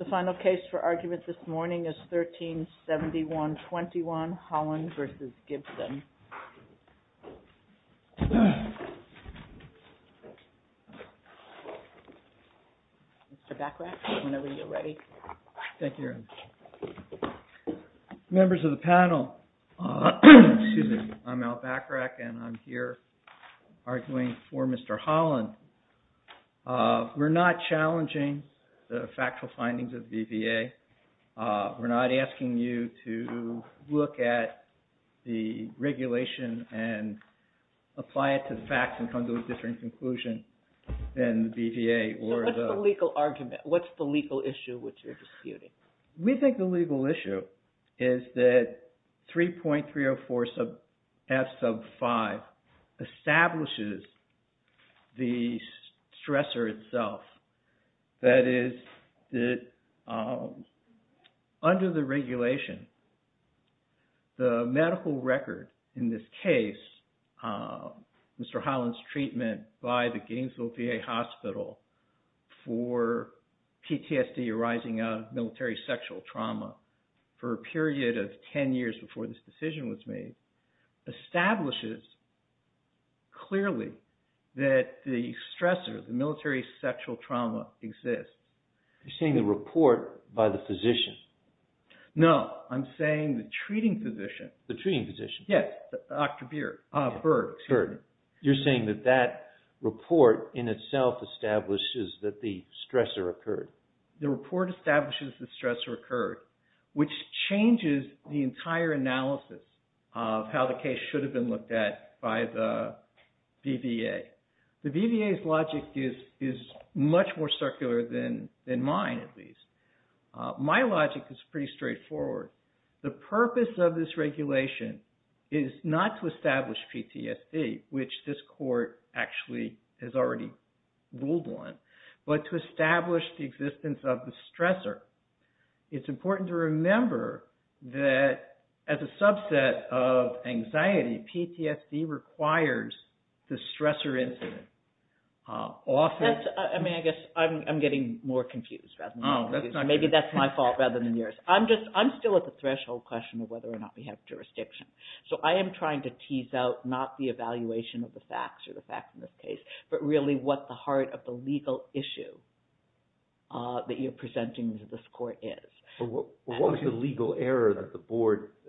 The final case for argument this morning is 13-71-21, Holland v. Gibson. Mr. Bachrach, whenever you're ready. Thank you. Members of the panel, excuse me, I'm Al Bachrach and I'm here arguing for Mr. Holland. We're not challenging the factual findings of the BVA. We're not asking you to look at the regulation and apply it to the facts and come to a different conclusion than the BVA. So what's the legal argument? What's the legal issue which you're disputing? We think the legal issue is that 3.304 F sub 5 establishes the stressor itself. That is, under the regulation, the medical record in this case, Mr. Holland's treatment by the Gainesville VA Hospital for PTSD arising out of military sexual trauma for a period of 10 years before this decision was made, establishes clearly that the stressor, the military sexual trauma exists. You're saying the report by the physician? No, I'm saying the treating physician. The treating physician? Yes, Dr. Berg. You're saying that that report in itself establishes that the stressor occurred? The report establishes the stressor occurred, which changes the entire analysis of how the case should have been looked at by the BVA. The BVA's logic is much more circular than mine, at least. My logic is pretty straightforward. The purpose of this regulation is not to establish PTSD, which this court actually has already ruled on, but to establish the existence of the stressor. It's important to remember that as a subset of anxiety, PTSD requires the stressor incident. I guess I'm getting more confused. Maybe that's my fault rather than yours. I'm still at the threshold question of whether or not we have jurisdiction. I am trying to tease out not the evaluation of the facts or the facts in this case, but really what the heart of the legal issue that you're presenting to this court is. What was the legal error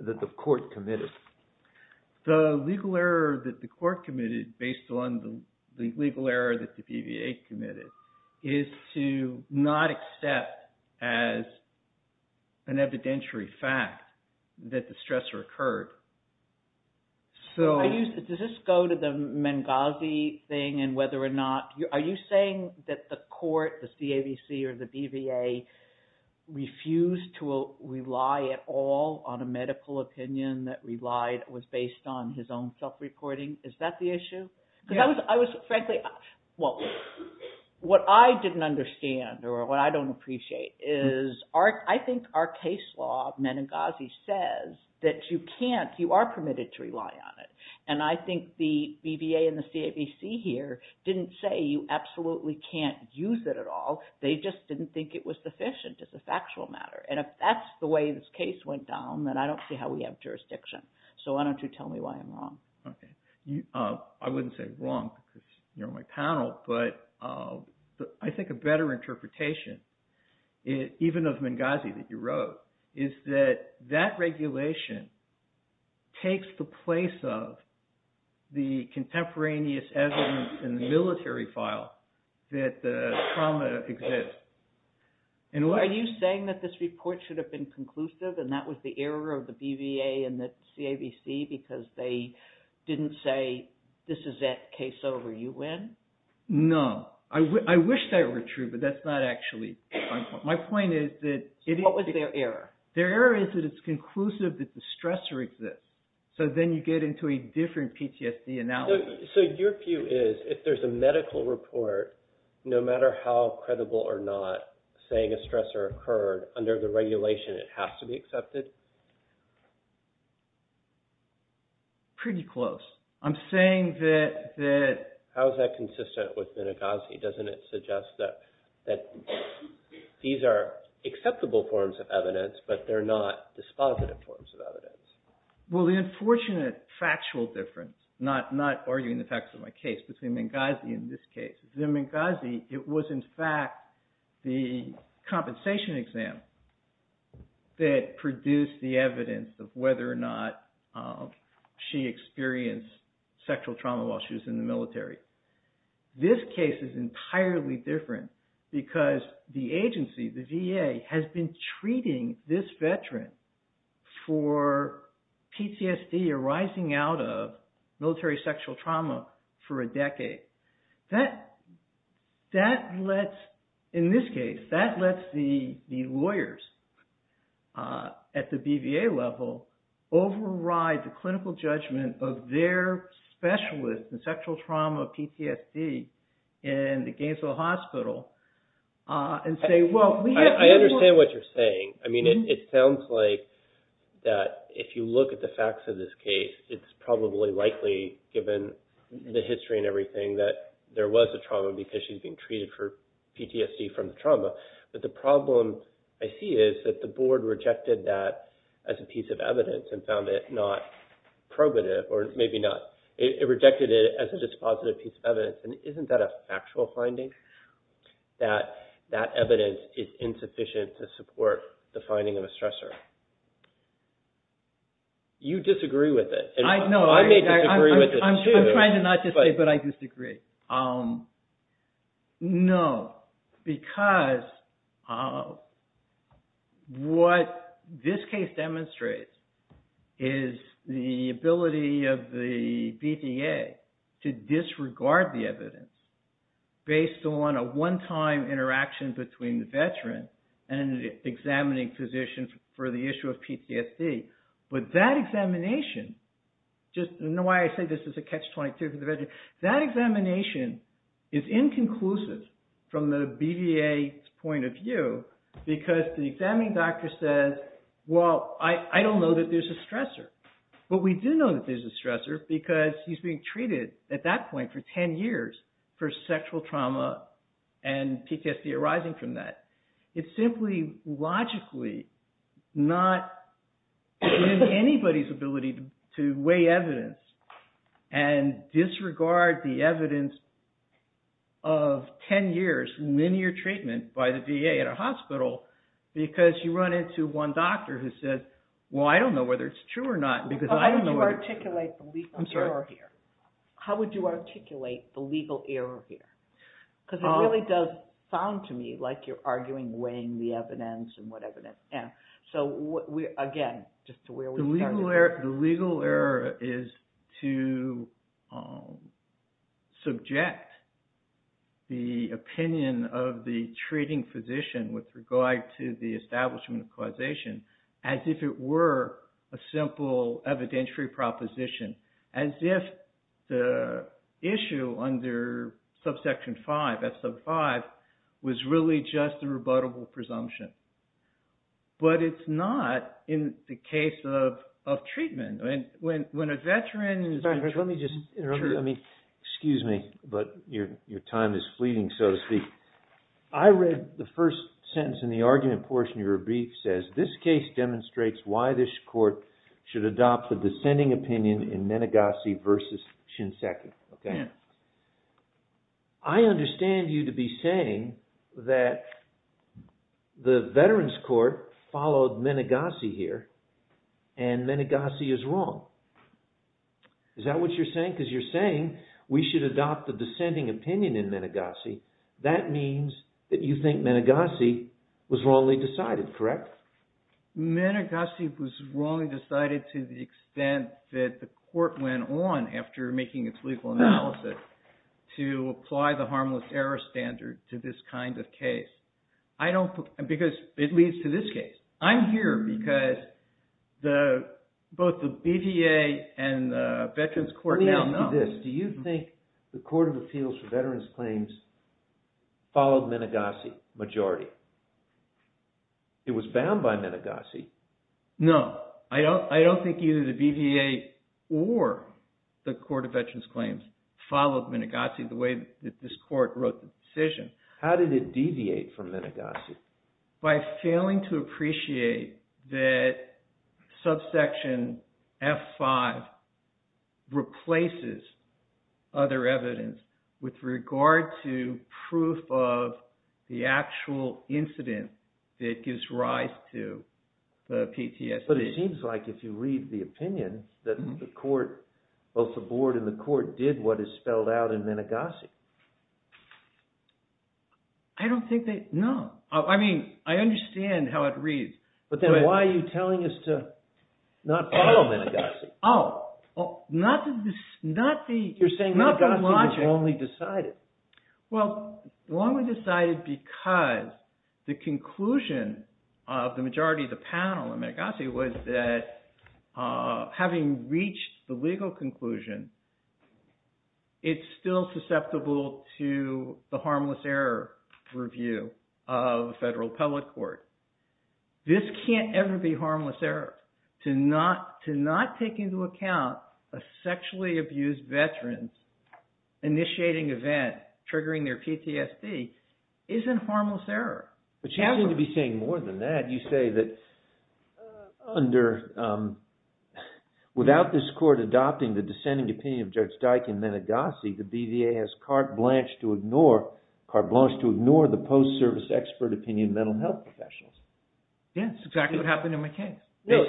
that the court committed? The legal error that the court committed, based on the legal error that the BVA committed, is to not accept as an evidentiary fact that the stressor occurred. Does this go to the Menengazi thing? Are you saying that the court, the CAVC or the BVA, refused to rely at all on a medical opinion that was based on his own self-reporting? Is that the issue? What I didn't understand or what I don't appreciate is I think our case law, Menengazi, says that you are permitted to rely on it. I think the BVA and the CAVC here didn't say you absolutely can't use it at all. They just didn't think it was sufficient as a factual matter. If that's the way this case went down, then I don't see how we have jurisdiction. Why don't you tell me why I'm wrong? I wouldn't say wrong because you're my panel, but I think a better interpretation, even of Menengazi that you wrote, is that that regulation takes the place of the contemporaneous evidence in the military file that the trauma exists. Are you saying that this report should have been conclusive and that was the error of the BVA and the CAVC because they didn't say this is it, case over, you win? No. I wish that were true, but that's not actually my point. My point is that... What was their error? Their error is that it's conclusive that the stressor exists. So then you get into a different PTSD analogy. So your view is if there's a medical report, no matter how credible or not, saying a stressor occurred under the regulation, it has to be accepted? Pretty close. I'm saying that... How is that consistent with Menengazi? Doesn't it suggest that these are acceptable forms of evidence, but they're not dispositive forms of evidence? Well, the unfortunate factual difference, not arguing the facts of my case, but the Menengazi in this case. The Menengazi, it was in fact the compensation exam that produced the evidence of whether or not she experienced sexual trauma while she was in the military. This case is entirely different because the agency, the VA, has been treating this veteran for PTSD arising out of military sexual trauma for a decade. That lets, in this case, that lets the lawyers at the BVA level override the clinical judgment of their specialist in sexual trauma PTSD in the Gainesville Hospital and say, well... I'm not saying that there was a trauma because she's being treated for PTSD from the trauma. But the problem I see is that the board rejected that as a piece of evidence and found it not probative, or maybe not. It rejected it as a dispositive piece of evidence. And isn't that a factual finding, that that evidence is insufficient to support the finding of a stressor? You disagree with it. No, I'm trying to not disagree, but I disagree. No, because what this case demonstrates is the ability of the BVA to disregard the evidence based on a one-time interaction between the veteran and an examining physician for the issue of PTSD. But that examination, just know why I say this is a catch-22 for the veteran. That examination is inconclusive from the BVA's point of view because the examining doctor says, well, I don't know that there's a stressor. But we do know that there's a stressor because he's being treated at that point for 10 years for sexual trauma and PTSD arising from that. It's simply logically not in anybody's ability to weigh evidence and disregard the evidence of 10 years linear treatment by the VA at a hospital because you run into one doctor who says, well, I don't know whether it's true or not. How would you articulate the legal error here? Because it really does sound to me like you're arguing weighing the evidence and what evidence. So, again, just to where we started. The legal error is to subject the opinion of the treating physician with regard to the establishment of causation as if it were a simple evidentiary proposition. As if the issue under subsection 5, F sub 5, was really just a rebuttable presumption. But it's not in the case of treatment. When a veteran is... Excuse me, but your time is fleeting, so to speak. I read the first sentence in the argument portion of your brief says, this case demonstrates why this court should adopt the dissenting opinion in Menegassi versus Shinseki. I understand you to be saying that the veterans court followed Menegassi here and Menegassi is wrong. Is that what you're saying? Because you're saying we should adopt the dissenting opinion in Menegassi. That means that you think Menegassi was wrongly decided, correct? Menegassi was wrongly decided to the extent that the court went on after making its legal analysis to apply the harmless error standard to this kind of case. Because it leads to this case. I'm here because both the BJA and the veterans court now know. Let me ask you this. Do you think the Court of Appeals for Veterans Claims followed Menegassi majority? It was bound by Menegassi. No, I don't think either the BJA or the Court of Veterans Claims followed Menegassi the way that this court wrote the decision. How did it deviate from Menegassi? By failing to appreciate that subsection F5 replaces other evidence with regard to proof of the actual incident that gives rise to the PTSD. But it seems like if you read the opinion that the court, both the board and the court did what is spelled out in Menegassi. I don't think they – no. I mean I understand how it reads. But then why are you telling us to not follow Menegassi? Oh, not the – not the logic. You're saying Menegassi was wrongly decided. Well, wrongly decided because the conclusion of the majority of the panel in Menegassi was that having reached the legal conclusion, it's still susceptible to the harmless error review of federal appellate court. This can't ever be harmless error. To not take into account a sexually abused veteran initiating event triggering their PTSD isn't harmless error. But you seem to be saying more than that. You say that under – without this court adopting the dissenting opinion of Judge Dike in Menegassi, the BVA has carte blanche to ignore the post-service expert opinion of mental health professionals. Yes, exactly what happened in my case. No,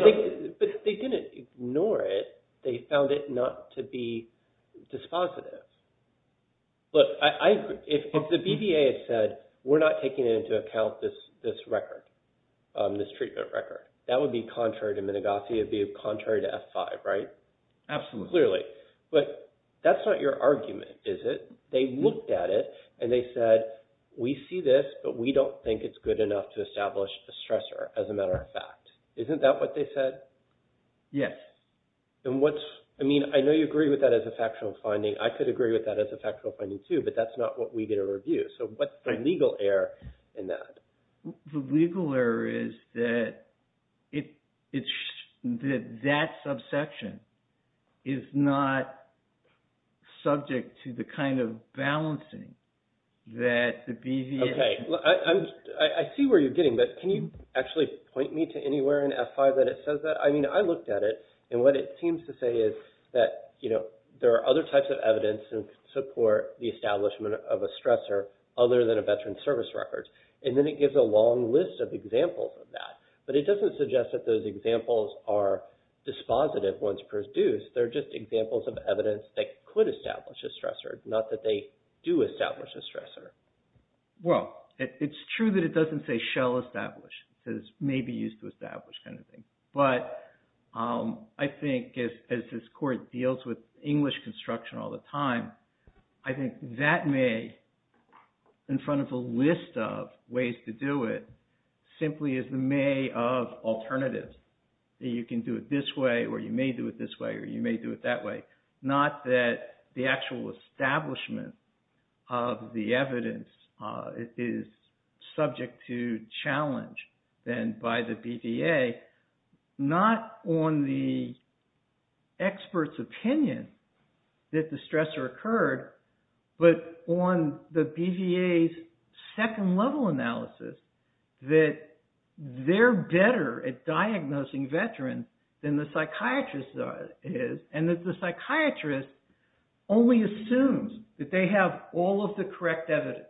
but they didn't ignore it. They found it not to be dispositive. Look, I – if the BVA had said we're not taking into account this record, this treatment record, that would be contrary to Menegassi. It would be contrary to F5, right? Absolutely. Clearly. But that's not your argument, is it? They looked at it and they said we see this, but we don't think it's good enough to establish a stressor as a matter of fact. Isn't that what they said? Yes. And what's – I mean, I know you agree with that as a factual finding. I could agree with that as a factual finding, too, but that's not what we get to review. So what's the legal error in that? The legal error is that it's – that that subsection is not subject to the kind of balancing that the BVA – Okay. I see where you're getting, but can you actually point me to anywhere in F5 that it says that? I mean, I looked at it, and what it seems to say is that there are other types of evidence that support the establishment of a stressor other than a veteran's service record, and then it gives a long list of examples of that. But it doesn't suggest that those examples are dispositive once produced. They're just examples of evidence that could establish a stressor, not that they do establish a stressor. Well, it's true that it doesn't say shall establish. It says may be used to establish kind of thing. But I think as this Court deals with English construction all the time, I think that may, in front of a list of ways to do it, simply is the may of alternatives, that you can do it this way or you may do it this way or you may do it that way, not that the actual establishment of the evidence is subject to challenge then by the BVA, not on the expert's opinion that the stressor occurred, but on the BVA's second-level analysis, that they're better at diagnosing veterans than the psychiatrist is, and that the psychiatrist only assumes that they have all of the correct evidence,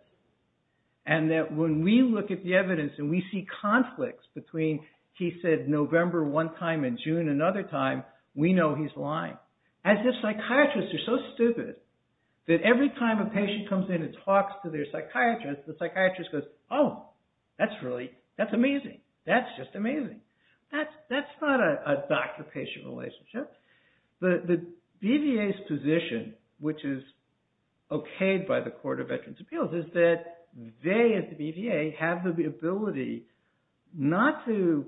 and that when we look at the evidence and we see conflicts between, he said, November one time and June another time, we know he's lying, as if psychiatrists are so stupid that every time a patient comes in and talks to their psychiatrist, the psychiatrist goes, oh, that's amazing. That's just amazing. That's not a doctor-patient relationship. The BVA's position, which is okayed by the Court of Veterans' Appeals, is that they, as the BVA, have the ability not to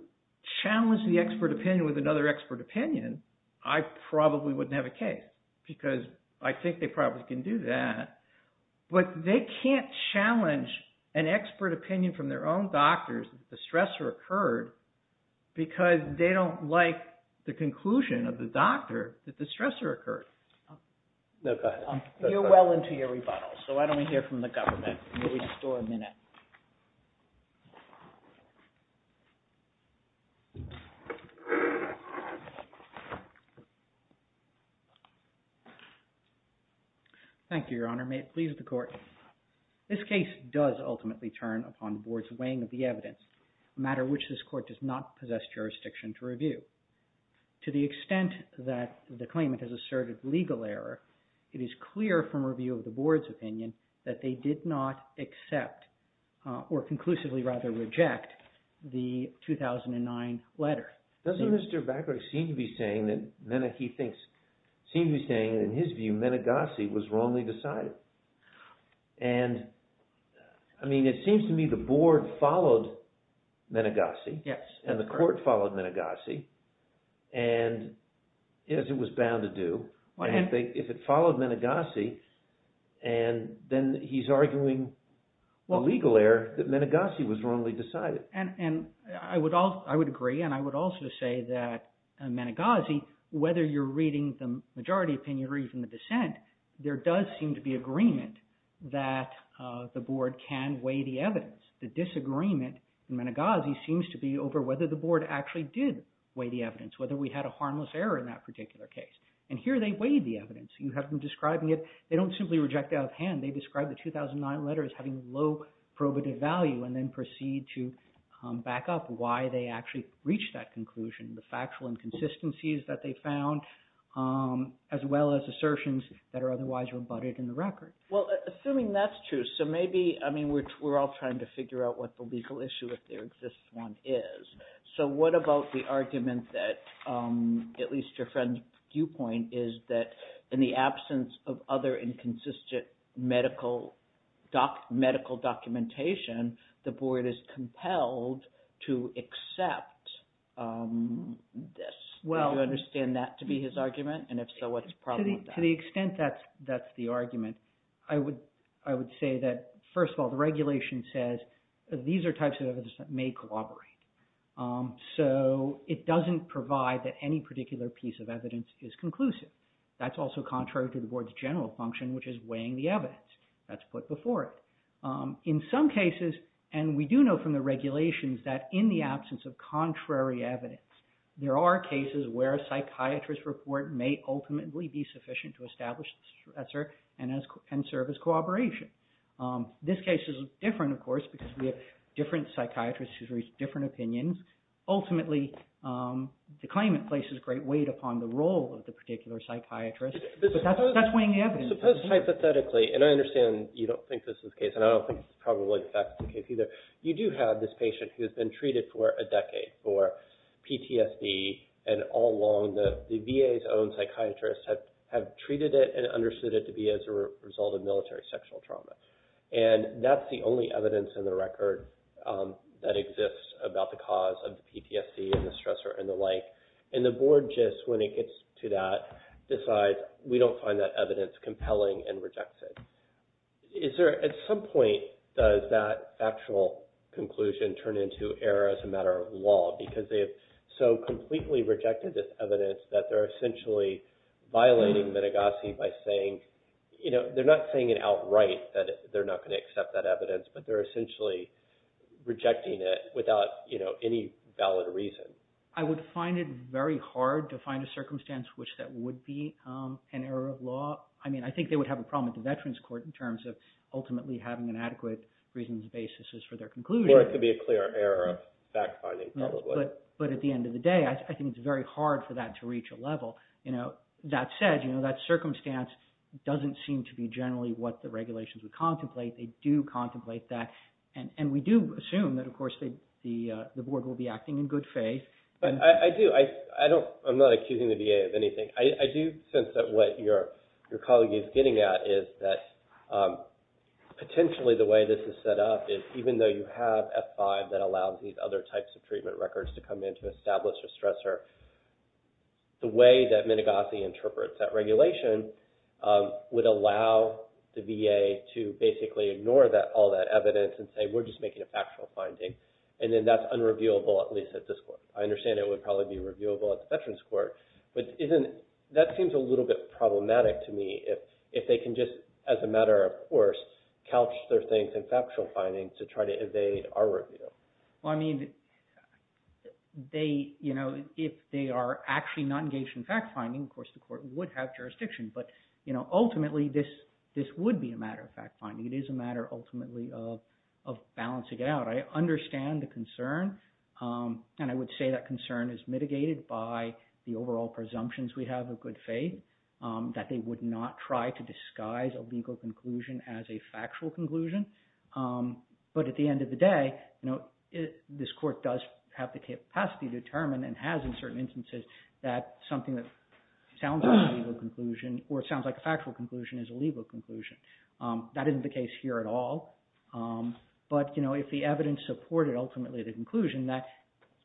challenge the expert opinion with another expert opinion. I probably wouldn't have a case because I think they probably can do that, but they can't challenge an expert opinion from their own doctors that the stressor occurred because they don't like the conclusion of the doctor that the stressor occurred. You're well into your rebuttal, so why don't we hear from the government? Thank you, Your Honor. May it please the Court. This case does ultimately turn upon the board's weighing of the evidence, a matter which this court does not possess jurisdiction to review. To the extent that the claimant has asserted legal error, it is clear from review of the board's opinion that they did not accept, or conclusively rather reject, the 2009 letter. Doesn't Mr. Bacowick seem to be saying that Meneghi thinks, seems to be saying that in his view, Meneghasi was wrongly decided? I mean, it seems to me the board followed Meneghasi. Yes. And the court followed Meneghasi, as it was bound to do. If it followed Meneghasi, then he's arguing a legal error that Meneghasi was wrongly decided. And I would agree, and I would also say that Meneghasi, whether you're reading the majority opinion or even the dissent, there does seem to be agreement that the board can weigh the evidence. The disagreement in Meneghasi seems to be over whether the board actually did weigh the evidence, whether we had a harmless error in that particular case. And here they weighed the evidence. You have them describing it. They don't simply reject out of hand. They describe the 2009 letter as having low probative value and then proceed to back up why they actually reached that conclusion. The factual inconsistencies that they found, as well as assertions that are otherwise rebutted in the record. Well, assuming that's true, so maybe, I mean, we're all trying to figure out what the legal issue, if there exists one, is. So what about the argument that, at least your friend's viewpoint, is that in the absence of other inconsistent medical documentation, the board is compelled to accept this? Do you understand that to be his argument? And if so, what's the problem with that? To the extent that that's the argument, I would say that, first of all, the regulation says these are types of evidence that may collaborate. So it doesn't provide that any particular piece of evidence is conclusive. That's also contrary to the board's general function, which is weighing the evidence. That's put before it. In some cases, and we do know from the regulations, that in the absence of contrary evidence, there are cases where a psychiatrist's report may ultimately be sufficient to establish the stressor and serve as cooperation. This case is different, of course, because we have different psychiatrists who've reached different opinions. Ultimately, the claimant places great weight upon the role of the particular psychiatrist, but that's weighing the evidence. Suppose, hypothetically, and I understand you don't think this is the case, and I don't think it's probably the factual case either, but you do have this patient who has been treated for a decade for PTSD, and all along the VA's own psychiatrists have treated it and understood it to be as a result of military sexual trauma. And that's the only evidence in the record that exists about the cause of PTSD and the stressor and the like. And the board just, when it gets to that, decides we don't find that evidence compelling and rejects it. Is there, at some point, does that factual conclusion turn into error as a matter of law? Because they have so completely rejected this evidence that they're essentially violating Midegasi by saying, you know, they're not saying it outright that they're not going to accept that evidence, but they're essentially rejecting it without, you know, any valid reason. I would find it very hard to find a circumstance which that would be an error of law. I mean, I think they would have a problem at the Veterans Court in terms of ultimately having an adequate reasons and basis for their conclusion. Or it could be a clear error of fact-finding, probably. But at the end of the day, I think it's very hard for that to reach a level. You know, that said, you know, that circumstance doesn't seem to be generally what the regulations would contemplate. They do contemplate that, and we do assume that, of course, the board will be acting in good faith. I do. I'm not accusing the VA of anything. I do sense that what your colleague is getting at is that potentially the way this is set up is even though you have F-5 that allows these other types of treatment records to come in to establish a stressor, the way that Midegasi interprets that regulation would allow the VA to basically ignore all that evidence and say, we're just making a factual finding. And then that's unreviewable, at least at this court. I understand it would probably be reviewable at the Veterans Court. But that seems a little bit problematic to me if they can just, as a matter of course, couch their things in factual findings to try to evade our review. Well, I mean, you know, if they are actually not engaged in fact-finding, of course, the court would have jurisdiction. But, you know, ultimately, this would be a matter of fact-finding. It is a matter ultimately of balancing it out. I understand the concern. And I would say that concern is mitigated by the overall presumptions we have of good faith, that they would not try to disguise a legal conclusion as a factual conclusion. But at the end of the day, you know, this court does have the capacity to determine and has in certain instances that something that sounds like a legal conclusion or it sounds like a factual conclusion is a legal conclusion. That isn't the case here at all. But, you know, if the evidence supported ultimately the conclusion that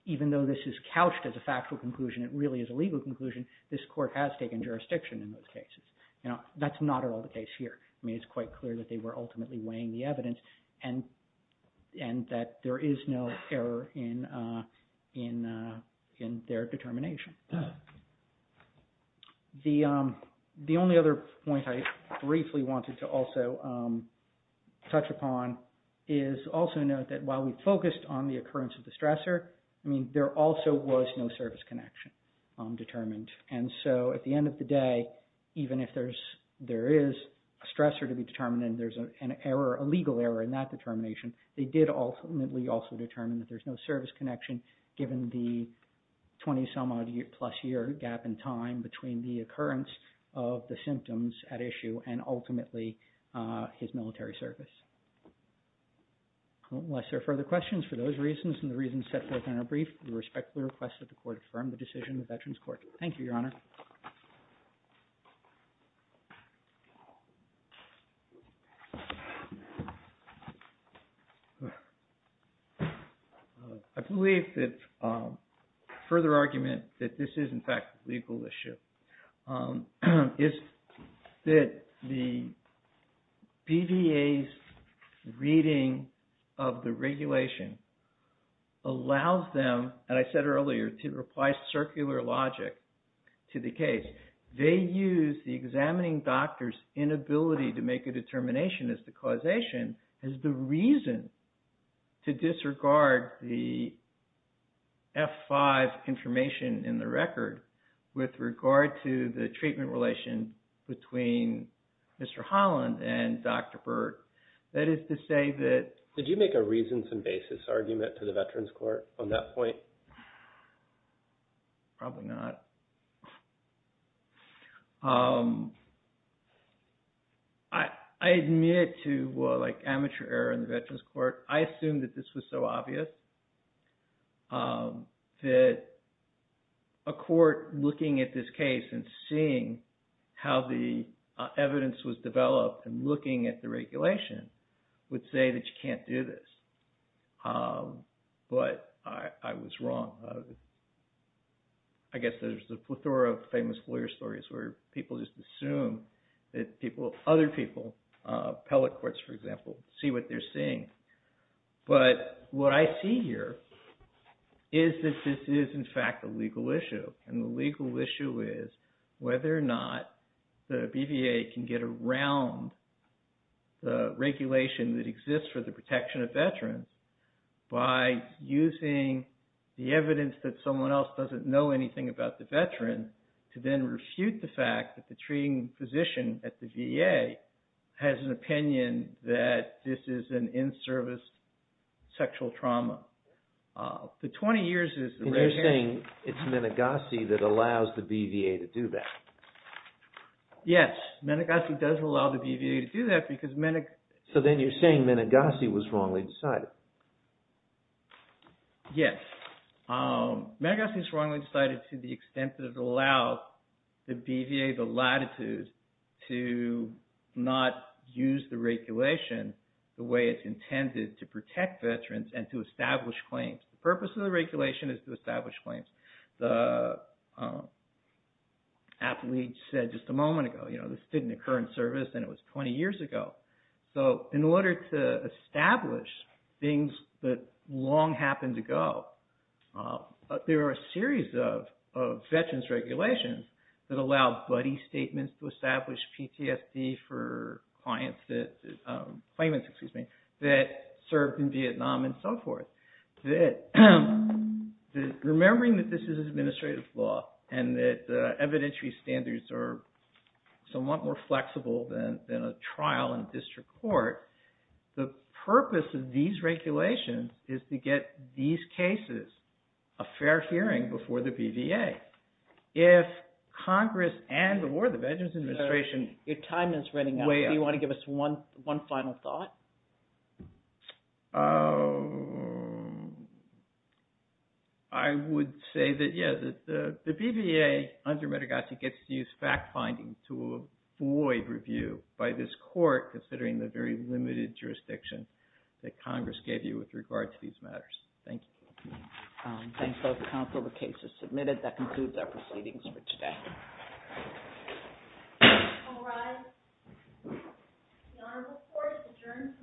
even though this is couched as a factual conclusion, it really is a legal conclusion, this court has taken jurisdiction in those cases. You know, that's not at all the case here. I mean, it's quite clear that they were ultimately weighing the evidence and that there is no error in their determination. The only other point I briefly wanted to also touch upon is also note that while we focused on the occurrence of the stressor, I mean, there also was no service connection determined. And so at the end of the day, even if there is a stressor to be determined and there is an error, a legal error in that determination, they did ultimately also determine that there's no service connection given the 20 some odd plus year gap in time between the occurrence of the symptoms at issue and ultimately his military service. Unless there are further questions for those reasons and the reasons set forth in our brief, we respectfully request that the court affirm the decision of Veterans Court. Thank you, Your Honor. I believe that further argument that this is in fact a legal issue is that the BVA's reading of the regulation allows them, and I said earlier, to apply circular logic to the case. They use the examining doctor's inability to make a determination as the causation as the reason to disregard the F5 information in the record with regard to the treatment relation between Mr. Holland and Dr. Burke. That is to say that... Did you make a reasons and basis argument to the Veterans Court on that point? Probably not. I admit to amateur error in the Veterans Court. I assumed that this was so obvious that a court looking at this case and seeing how the evidence was developed and looking at the regulation would say that you can't do this. But I was wrong. I guess there's a plethora of famous lawyer stories where people just assume that other people, appellate courts for example, see what they're seeing. But what I see here is that this is in fact a legal issue. And the legal issue is whether or not the BVA can get around the regulation that exists for the protection of veterans by using the evidence that someone else doesn't know anything about the veterans to then refute the fact that the treating physician at the VA has an opinion that this is an in-service sexual trauma. The 20 years is... And you're saying it's Menegossi that allows the BVA to do that. Yes, Menegossi does allow the BVA to do that because... So then you're saying Menegossi was wrongly decided. Yes. Menegossi is wrongly decided to the extent that it allows the BVA the latitude to not use the regulation the way it's intended to protect veterans and to establish claims. The purpose of the regulation is to establish claims. The appellate said just a moment ago, this didn't occur in service and it was 20 years ago. So in order to establish things that long happened to go, there are a series of veterans regulations that allow buddy statements to establish PTSD for claimants that served in Vietnam and so forth. Remembering that this is administrative law and that evidentiary standards are somewhat more flexible than a trial in district court. The purpose of these regulations is to get these cases a fair hearing before the BVA. If Congress and or the Veterans Administration... Your time is running out. Do you want to give us one final thought? I would say that, yes, the BVA under Menegossi gets to use fact-finding to avoid review by this court considering the very limited jurisdiction that Congress gave you with regard to these matters. Thank you. Thanks, both counsel. The case is submitted. That concludes our proceedings for today. All rise. The honorable court is adjourned for today's hearing.